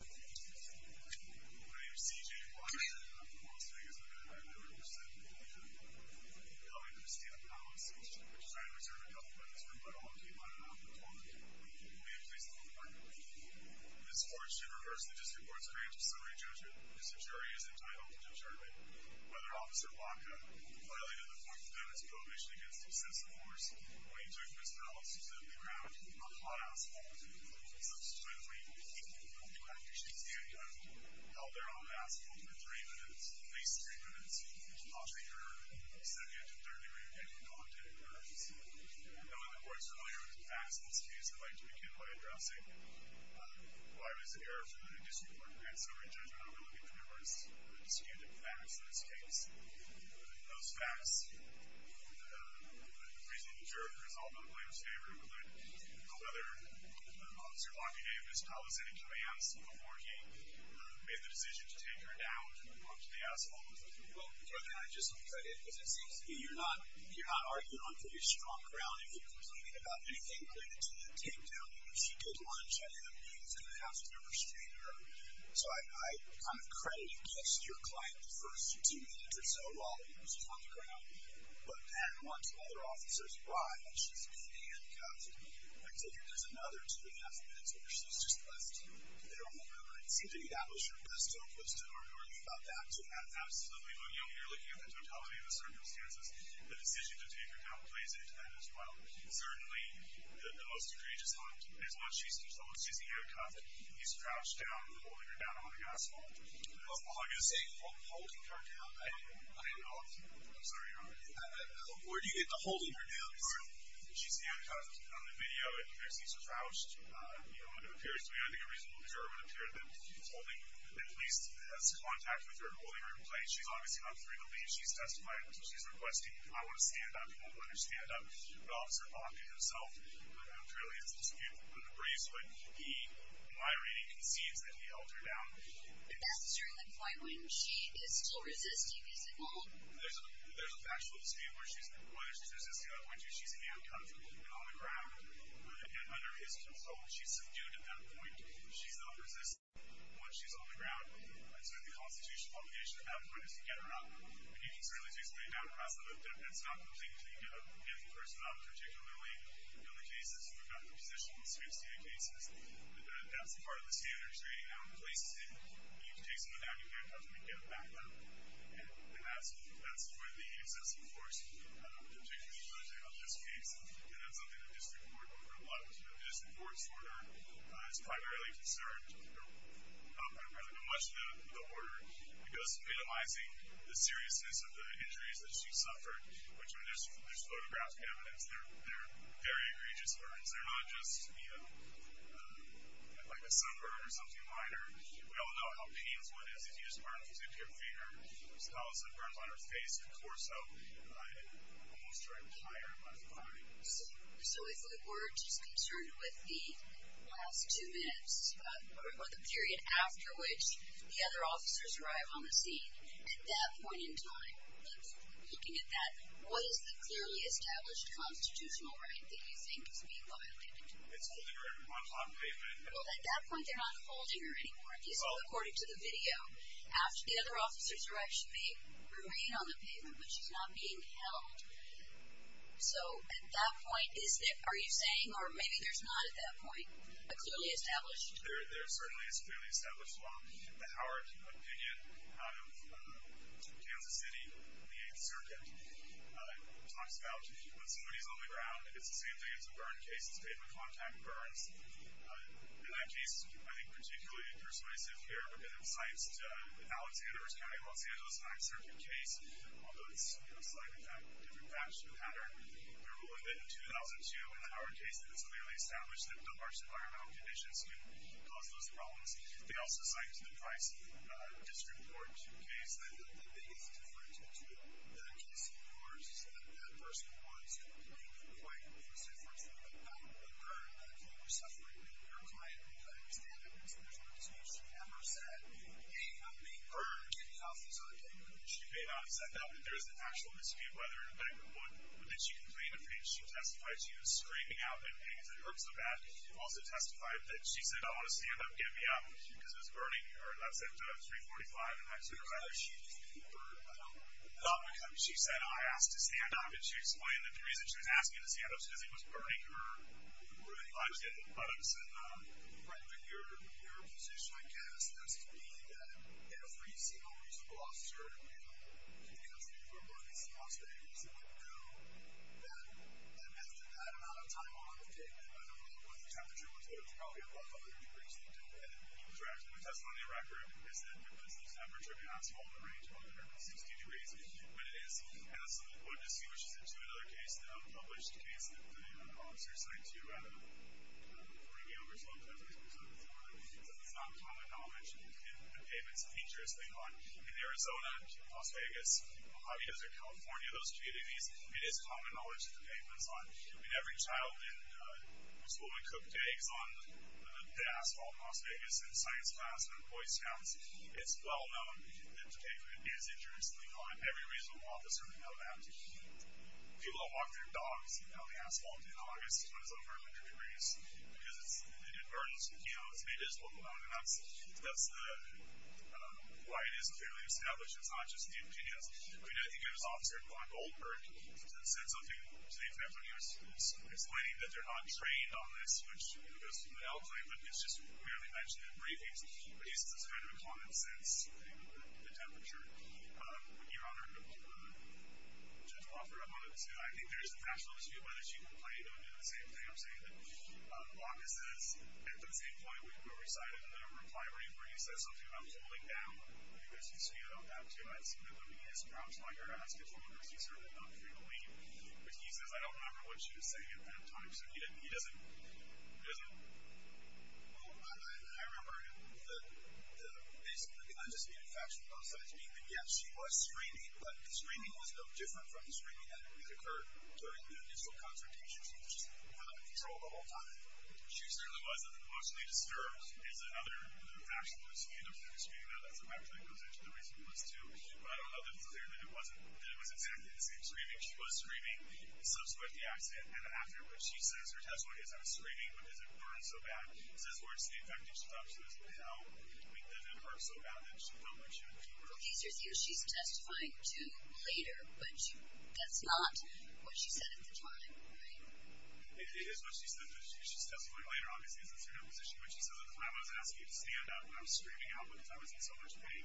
My name is C.J. Blanchard and I'm from Las Vegas Metro. I'm here to represent the Cali-Cristina Palos District. We're trying to reserve a couple minutes for you, but all the people I don't know at the moment will be in place at 11 o'clock. This court should reverse the District Court's grant of summary judgment. Mr. Jury is entitled to determine whether Officer Blanca, clearly in the form of evidence of prohibition against obsessive force, when he took Mr. Palos to the ground on hot asphalt, subsequently, even though he knew how to use the air gun, held there on the asphalt for three minutes, at least three minutes, while taking her to the second and third degree room, and then gone to her seat. Now, in regards to earlier facts in this case, I'd like to begin by addressing why it was an error for the District Court to grant summary judgment overlooking the numerous disputed facts in this case. Those facts, the reason the jury was all in Blanca's favor, whether Officer Blanca gave Ms. Palos any commands before he made the decision to take her down onto the asphalt. Well, Jury, I just want to cut in, because it seems to me you're not arguing on pretty strong ground if you're complaining about anything related to the takedown. She did lunge at him, and I have to understand her. So I kind of credit and kissed your client the first two minutes or so while he was on the ground. But then, once other officers arrived and she's been handcuffed, I take it there's another two and a half minutes where she's just left there on the ground. I'd seem to be that was your best hope, but still, I'm worried about that. Absolutely. When you're looking at the totality of the circumstances, the decision to take her down plays into that as well. Certainly, the most egregious one is when she's controlling, she's using her cuff, and he's crouched down, holding her down on the asphalt. That's all I'm going to say. Hold her down? I don't know. I'm sorry, Your Honor. Where do you get the holding her down from? She's handcuffed on the video, and it seems her crouched. I think a reasonable juror would appear to have been holding, at least has contact with her and holding her in place. She's obviously not free to leave. She's testifying. So she's requesting, I want to stand up. He won't let her stand up. The officer, on himself, clearly is in dispute with the briefs. My reading concedes that he held her down. And that's during the filing. She is still resisting, is it not? There's a factual dispute whether she's resisting or not. When she's handcuffed and on the ground and under his control, she's subdued at that point. She's not resisting once she's on the ground. So the constitutional obligation at that point is to get her out. But he can certainly just lay down across the road. That's not the thing to give the person up, particularly in the cases where we're not in the position in this case to get cases. But that's part of the standards rating. I don't place it in. You can take someone down. You can handcuff them and get them back up. And that's where the excessive force particularly comes in on this case. And that's something the district court will cover a lot. But the district court's order is primarily concerned, or rather much the order, because of minimizing the seriousness of the injuries that she suffered, which there's photographic evidence. They're very egregious burns. They're not just, you know, like a sunburn or something minor. We all know how painful it is if you just burn a little bit of your finger. There's thousands of burns on her face and torso. Almost her entire body. So if we're just concerned with the last two minutes or the period after which the other officers arrive on the scene, at that point in time, Looking at that, what is the clearly established constitutional right that you think is being violated? It's holding her on pavement. Well, at that point, they're not holding her anymore. It's all according to the video. After the other officers arrive, she may remain on the pavement, but she's not being held. So at that point, are you saying, or maybe there's not at that point, a clearly established? There certainly is clearly established law. The Howard opinion out of Kansas City, the 8th Circuit, talks about when somebody's on the ground, it's the same thing as a burn case. It's pavement contact burns. And that case, I think, particularly persuasive here because it cites Alexander County, Los Angeles, 9th Circuit case. Although it's, you know, a slightly different patch and pattern. There were a little bit in 2002 in the Howard case that it's clearly established that a large environmental conditions can cause those problems. They also cite the price of district court case. I don't think there's a difference between the Kansas City court versus that person who wants to be quite persuasive for a pavement pattern. A burn, if you were suffering, and your client knew how to stand up and stand up to you, she never said, hey, I'm being burned, and the officers aren't getting me. She may not have said that, but there is an actual misview whether or not that she complained of pain. She testified she was screaming out in pain because it hurt so bad. She also testified that she said, oh, I want to stand up, get me up, because it was burning her. That's at 345, and that's her letter. She said, I asked to stand up, and she explained that the reason she was asking me to stand up was because he was burning her. I was getting buttocks. Your position, I guess, has to be that every single reasonable officer in the country for burning someone's face would know that after that amount of time on the pavement, I don't know what the temperature was, but it was probably above 100 degrees, and he was wrapped in a test on the record, because the temperature cannot fall in the range of 160 degrees, but it is. And that's what distinguishes it to another case, the published case that the officers cite to, I don't know, 40 years old, but it's not common knowledge in the pavements and features they hunt. In Arizona, Las Vegas, Jalisco, California, those communities, it is common knowledge that the pavement is haunted. I mean, every child in a school that cooked eggs on the asphalt in Las Vegas in science class in the boys' towns, it's well known that the pavement is intrinsically haunted. Every reasonable officer would know that. People that walk their dogs on the asphalt in August when it's over 100 degrees because it's an emergency, you know, it's made visible to them, and that's why it is clearly established. It's not just the opinions. I mean, I think there was an officer on Goldberg that said something to the effect of explaining that they're not trained on this, which, you know, goes without saying, but it's just merely mentioned in briefings, but he said it's kind of a common sense thing with the temperature. Your Honor, Judge Crawford, I wanted to say, I think there's a natural issue of whether she can play the same thing I'm saying, that Baca says. At the same point, we recited a reply where he says something about cooling down. I think there's some speed on that, too. I have seen that when he has crouched while you're asking for her, she certainly did not frequently. But he says, I don't remember what she was saying at that time, so he doesn't... I remember the basic, the kind of the infatuation on both sides being that, yes, she was screaming, but the screaming was no different from the screaming that had occurred during the initial confrontation. She just had control the whole time. She certainly wasn't emotionally disturbed. It's another infatuation that was made up for in the screaming. I don't know if that actually goes into the reason it was, too. But I don't know that it was exactly the same screaming. She was screaming, subsequent to the accident, and then afterwards. She says her testimony is, I was screaming, but does it burn so bad? Is this worse than the infection she's up to now? Does it hurt so bad that she felt like she would do worse? Well, he says here she's testifying to later, which that's not what she said at the time, right? It is what she said, but she's testifying later. Obviously, it's a different position. But she says, I was asking you to stand up when I was screaming out because I was in so much pain.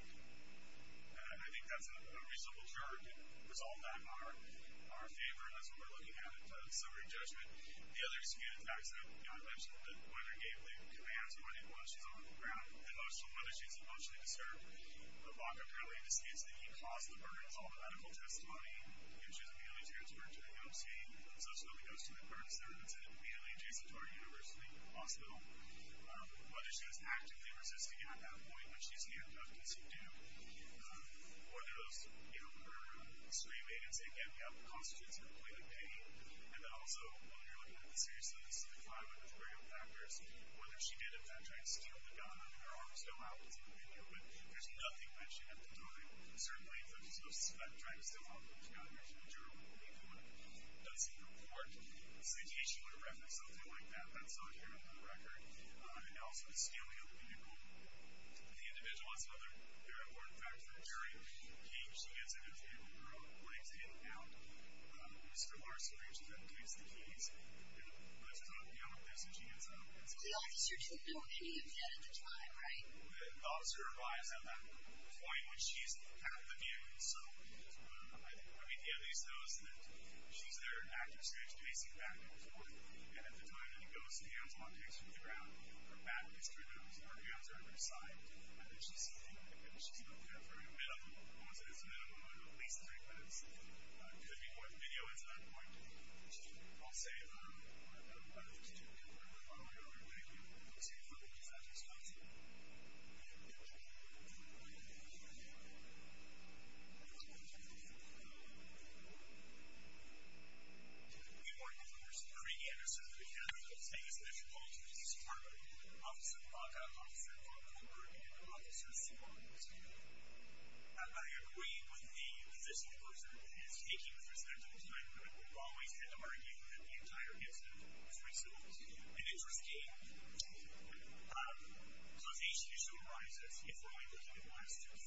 And I think that's a reasonable judgment. There's all of that in our favor, and that's what we're looking at in summary judgment. The other screaming attacks that I mentioned, whether it gave the command to anyone, she's on the ground. It goes to whether she's emotionally disturbed. But Baca apparently indicates that he caused the burn. It's all in the medical testimony. She was immediately transferred to the EMC. So she only goes to the burn center. It's immediately adjacent to our university hospital. Whether she was actively resisting at that point, when she's handcuffed to some damp, whether those, you know, her screaming and saying, yeah, we have constitutes of a point of pain. And then also, when we were looking at the seriousness of the fire, which were real factors, whether she did, in fact, try to steal the gun or her arms fell out in the video. But there's nothing mentioned at the time. Certainly, if it was, you know, trying to steal a gun, there's not an issue in the journal. It doesn't report. So in case she would have referenced something like that, that's not here on the record. And also, the stealing of a vehicle. The individual is another important factor. During the heat, she gets in her vehicle, her legs hanging down. Mr. Larson, where she then takes the keys, and let's just not deal with this, and she gets out. The officer took no keys yet at the time, right? The officer arrives at that point when she's out of the view. So I mean, he at least knows that she's there in active search, pacing back and forth. And at the time that he goes to the arms, while he's on the ground, her back is turned out, her hands are on her side, and she's looking at her in the middle, almost as if she's looking at him, at least for like minutes, looking at what video is at that point. I'll say, I don't know, I don't know. I'm sorry for the defective speech. I'm sorry. I'm sorry. I'm sorry. Thank you. We are, of course, a pre-game. So if you have anything that's difficult, you can just report it to the officer, and we'll report it to the officer as soon as we can. I agree with the position of the person. Speaking with respect to the time, we always end up arguing the entire game. So it's an interesting conversation. It still arises if we're only looking at the last 20,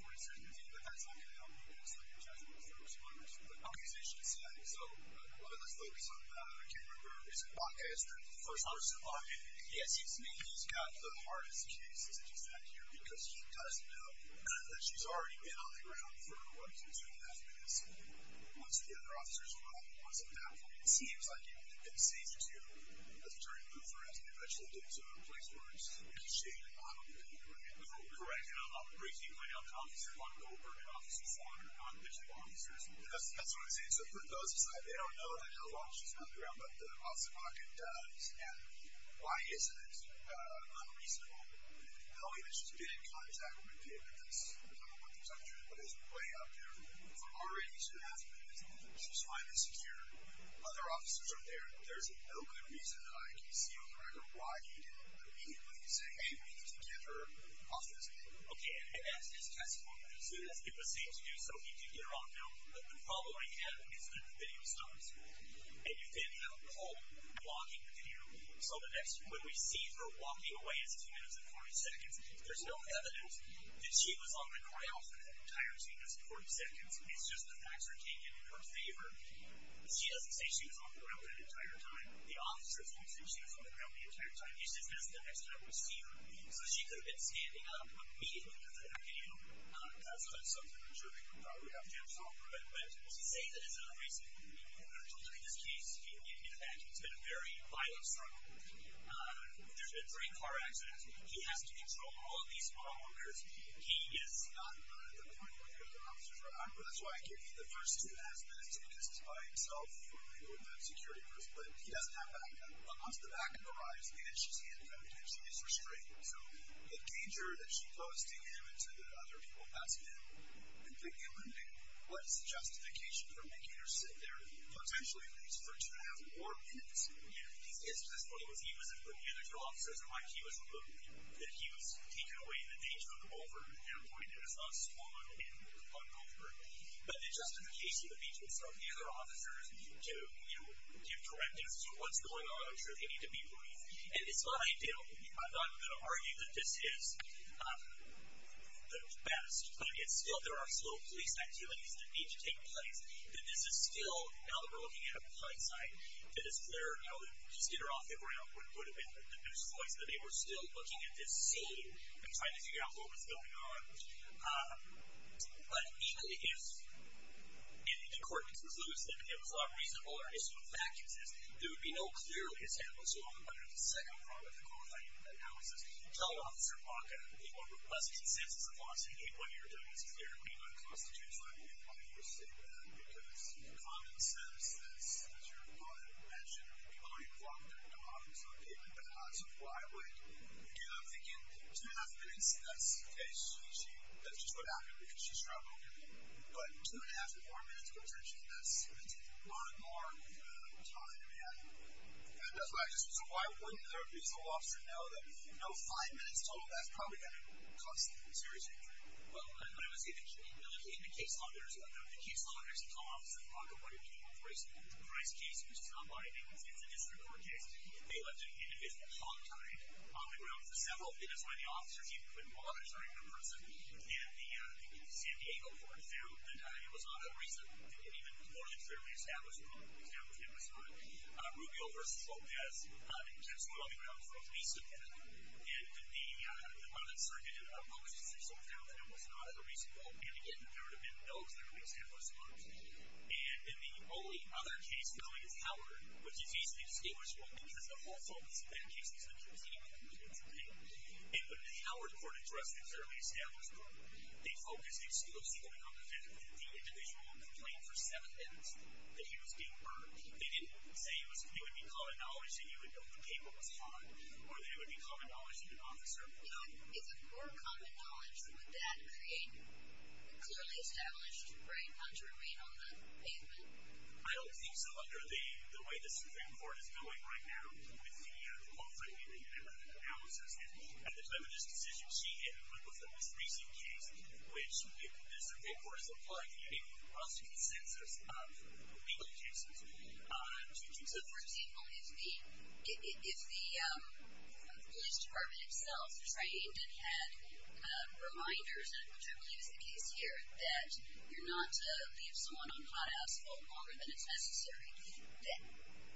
40 seconds. I agree with you, but that's not going to help me, because I just want to focus on the conversation itself. So let's focus on Cameron Burr. He's a BACA expert, the first officer. Yes, he's got the hardest case that you've had here, because he doesn't know that she's already been on the ground for what, two and a half minutes? Once the other officers arrive, once they're back, it seems like it would have been safe to turn and move her as we eventually get to a place where it's shady. I don't think that would have been correct. And I'm not breaking my own comments. I don't want to go over to officers who are non-visual officers. That's what I'm saying. So for those who say they don't know that Carole Walsh is not on the ground, but the officer on the ground does, and why isn't it unreasonable? Not only that she's been in contact with David, because we're talking about protection, but there's a way out there for her already to have been. She's fine and secure. Other officers are there. There's no good reason that I can see on the record why he didn't completely say, okay, we need to get her officers. Okay, and that's his testimony. As soon as it was safe to do so, he did get her on film. The following day, his video stops, and you then have a poll blocking the video. So when we see her walking away as two minutes and 40 seconds, there's no evidence that she was on the ground for that entire two minutes and 40 seconds. It's just the facts are taken in her favor. She doesn't say she was on the ground that entire time. The officer thinks that she was on the ground the entire time. So she could have been standing up immediately after that video. That's not something that we're sure we would have to have solved, but to say that is not a reason. And I told you in this case, in fact, it's been a very violent struggle. There's been three car accidents. He has to control all of these car owners. He is not the only one who has an officer's record. That's why I give you the first two aspects, because it's by himself, the security person. But he doesn't have a backup. Once the backup arrives, then it's just the end of evidence. He is restrained. So the danger that she posed to him and to the other people, that's been completely eliminated. What's the justification for making her sit there potentially at least for two and a half more minutes? His case was as follows. He was a good managerial officer. That's why he was alone. He was taking away the danger of over at that point. It was not a small amount of pain on over. But the justification that he took from the other officers to give correctives to what's going on, I'm sure they need to be briefed. And it's not ideal. I'm not going to argue that this is the best. But, again, still there are some police activities that need to take place. But this is still, now that we're looking at it from the client's side, that it's clear how to just get her off the ground would have been the best choice. But they were still looking at this solely and trying to figure out what was going on. But even if any of the correctives was loosed, and it was a lot more reasonable, or at least what the fact is, there would be no clear example, so I'm going to have to say I'm probably for qualifying analysis. Child Officer Baca, people who requested sentences of loss and gave what they were doing was clearly not supposed to do. So I don't want to overstate that. Because the common sense is, as your client mentioned, you only block their dogs on paper. So why would you have to give two and a half minutes to that situation if that's just what happened because she's traveling? But two and a half or four minutes of attention, that's a lot more time than that's what I just said. So why wouldn't a reasonable officer know that? No, five minutes total, that's probably going to cause some serious injury. Well, let me see. In the case law, there's a co-officer in Baca who wanted to be able to raise a price case, which is not liable to the district or case. They left an individual hontied on the ground for several minutes by the officers who couldn't monitor the person. And the San Diego court found that it was not a reasonable, even more than fairly established rule, that it was not. Rubio v. Lopez just went on the ground for a case of that. And the Martin Luther Circuit published a case of that and it was not a reasonable and, again, there would have been those that would have been established laws. And in the only other case, Billings Howard, which is easily distinguishable because the whole focus of that case is the containment of the military payment. In the Howard court address, the fairly established rule, they focused exclusively on the individual who complained for seven minutes that he was being burned. They didn't say it would be common knowledge that you would know the paper was hot or that it would be common knowledge that an officer would know. If it were common knowledge, would that create a clearly established right not to remain on the pavement? I don't think so under the way the Supreme Court is doing right now with the law-finding and the genetic analysis. At the time of this decision, she had worked with the most recent case, which the Supreme Court has applied a cross consensus of legal cases. So, for example, if the police department itself trained and had reminders, which I believe is the case here, that you're not to leave someone on hot asphalt longer than it's necessary, then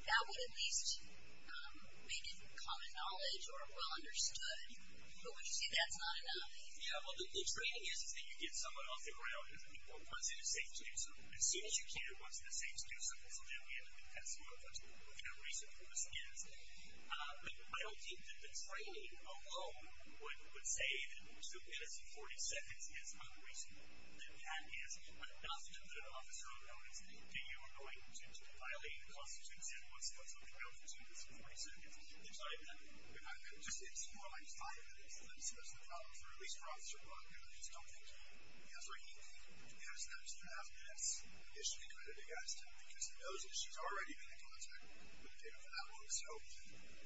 that would at least make it common knowledge or well understood. But we're just saying that's not enough. Yeah, well, the training is that you get someone off the ground who wasn't a safe doer. So as soon as you can, who wasn't a safe doer, something's going to happen. That's one of the kind of reasons for this case. But I don't think that the training alone would say that two minutes and 40 seconds is unreasonable. That that is enough to put an officer on notice that you are going to violate the Constitution once those are committed to two minutes and 40 seconds. Exactly. It's more like five minutes. There's a problem with the release for officer, but I just don't think you ever need to have this issue included because those issues already have been in contact with people in that room. So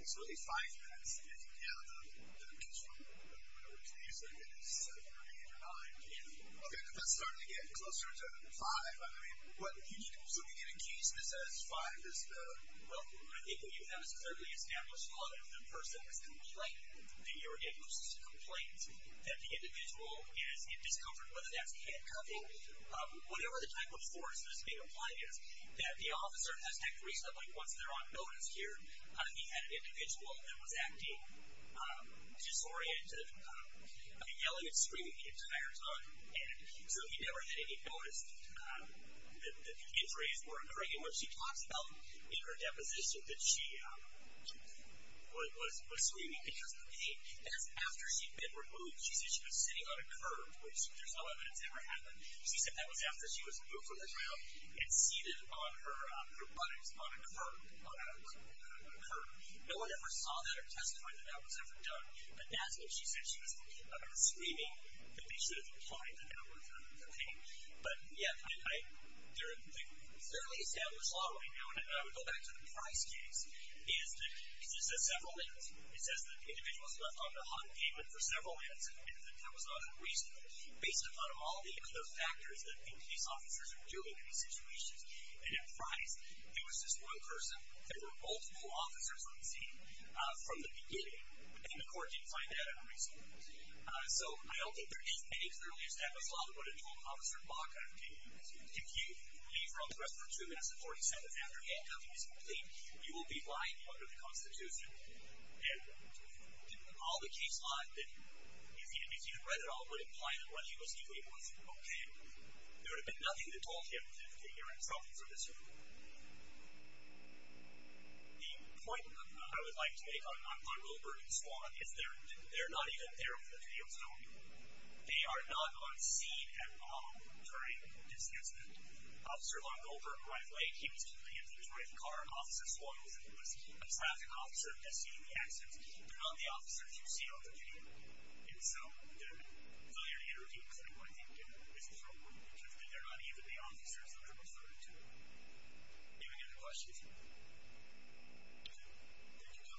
it's really five minutes. If you count them, which is from what I was using, it is seven or eight or nine. Okay, but that's starting to get closer to five. So we can accuse this as five. Well, I think what you have is a fairly established law that if the person was complaining, that you were getting those complaints, that the individual is in discomfort, whether that's handcuffing, whatever the type of force that's being applied is, that the officer has to act reasonably. Once they're on notice here, he had an individual that was acting disoriented, yelling and screaming the entire time, and so he never really noticed that the injuries were occurring. And what she talks about in her deposition that she was screaming because of the pain, that's after she'd been removed. She said she was sitting on a curb, which there's no evidence that ever happened. She said that was after she was removed from the jail and seated on her buttocks on a curb. No one ever saw that or testified that that was ever done, but that's when she said she was screaming that they should have implied that that was her pain. But, yeah, the fairly established law right now, and I would go back to the Price case, is that it says several things. It says that the individual is left on a hot pavement for several minutes and admitted that that was not unreasonable based upon all the other factors that police officers are doing in these situations. And in Price, there was this one person, there were multiple officers on scene from the beginning, and the court did find that unreasonable. So I don't think there is any fairly established law that would have told Officer Baca, if you leave from the restroom two minutes before he said that and after he had nothing to say, you will be lying under the Constitution. And all the case law that you've seen and if you've read at all would imply that what he was doing was okay. There would have been nothing to tell him if he were in trouble for this reason. The point I would like to make on Wilbur and Swan is they're not even there on the video, so they are not on scene at all during this incident. Officer Long-Gulper and Wife Lake, he was in the vehicle, he was in the car, Officer Swan was a traffic officer, he was seen in the accident. They're not the officers you see on the video. And so the earlier interview was not what they did. This is wrong. They're not even the officers that they're referring to. Any other questions?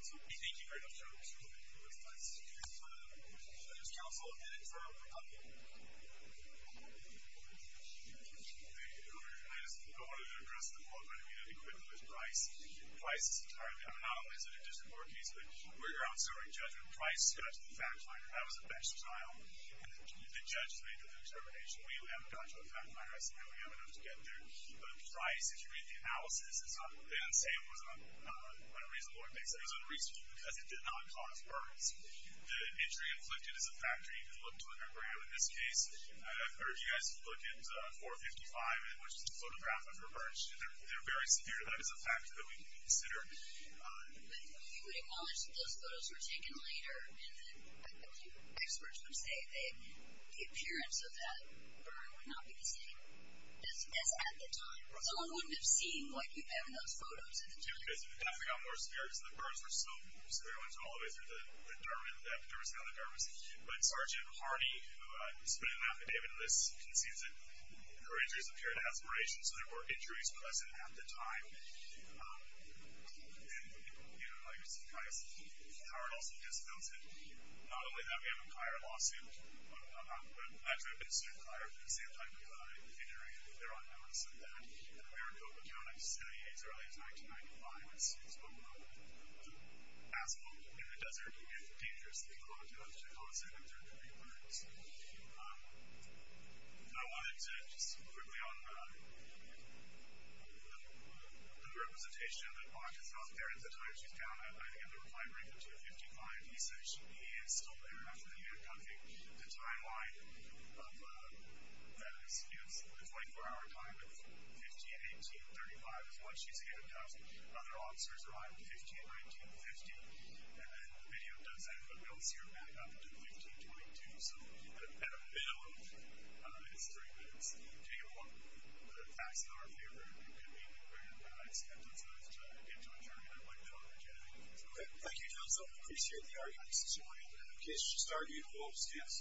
Okay. Thank you very much, sir. We appreciate it. We appreciate it. Thank you, sir. Thank you, sir. Thank you, counsel. And then for the public. Thank you. Go ahead. I just wanted to address the point about the equipment was priced. Priced is entirely, I mean, not only is it a district court case, but where you're out serving judgment, price got to the fact finder, that was a bench trial, and the judge made the determination. We have got to the fact finder, I think we have enough to get there. But the price, as you read the analysis, it's not, they didn't say it was on a reasonable basis. It was a reasonable because it did not cause burns. The injury inflicted is a factor. You can look to a memorandum in this case. I've heard you guys can look at 455, which is the photograph of her burn. They're very severe. That is a factor that we can consider. But you would acknowledge that those photos were taken later, and experts would say the appearance of that burn would not be the same as at the time. No one would have seen what you've been in those photos. You guys would have definitely gotten more scared because the burns were so severe going all the way through the dermis, the epidermis and other dermis. But Sgt. Hardy, who submitted an affidavit to this, concedes that her injuries appeared aspiration, so there were injuries less than half the time. And, you know, like I said, Howard also disavows it. Not only that, we have a prior lawsuit. I'm glad to have been sued prior, but at the same time, we've had an injury, and there are numbers of that. In America, we don't have to study AIDS early as 1995. We've seen it as well. In the desert, you get dangerous, and people don't do much to cause it, and they're doing burns. I wanted to just quickly on the representation of it. Mark is not there at the time. She's down at, I think, at the reply break at 255. He said he should be in school there after the end of the timeline of that incident. It's a 24-hour time of 15, 18, 35 is what she's given to us. Other officers arrive at 15, 19, 50. And then the video does end, but we don't see her back up until 15, 22. So at the middle of history, it's day one of the facts in our favor. It could be anywhere, but I expect them to have to get to a term that I wouldn't know they're getting. Okay, thank you, Johnson. I appreciate the arguments this morning. And in case you started, you can go upstairs.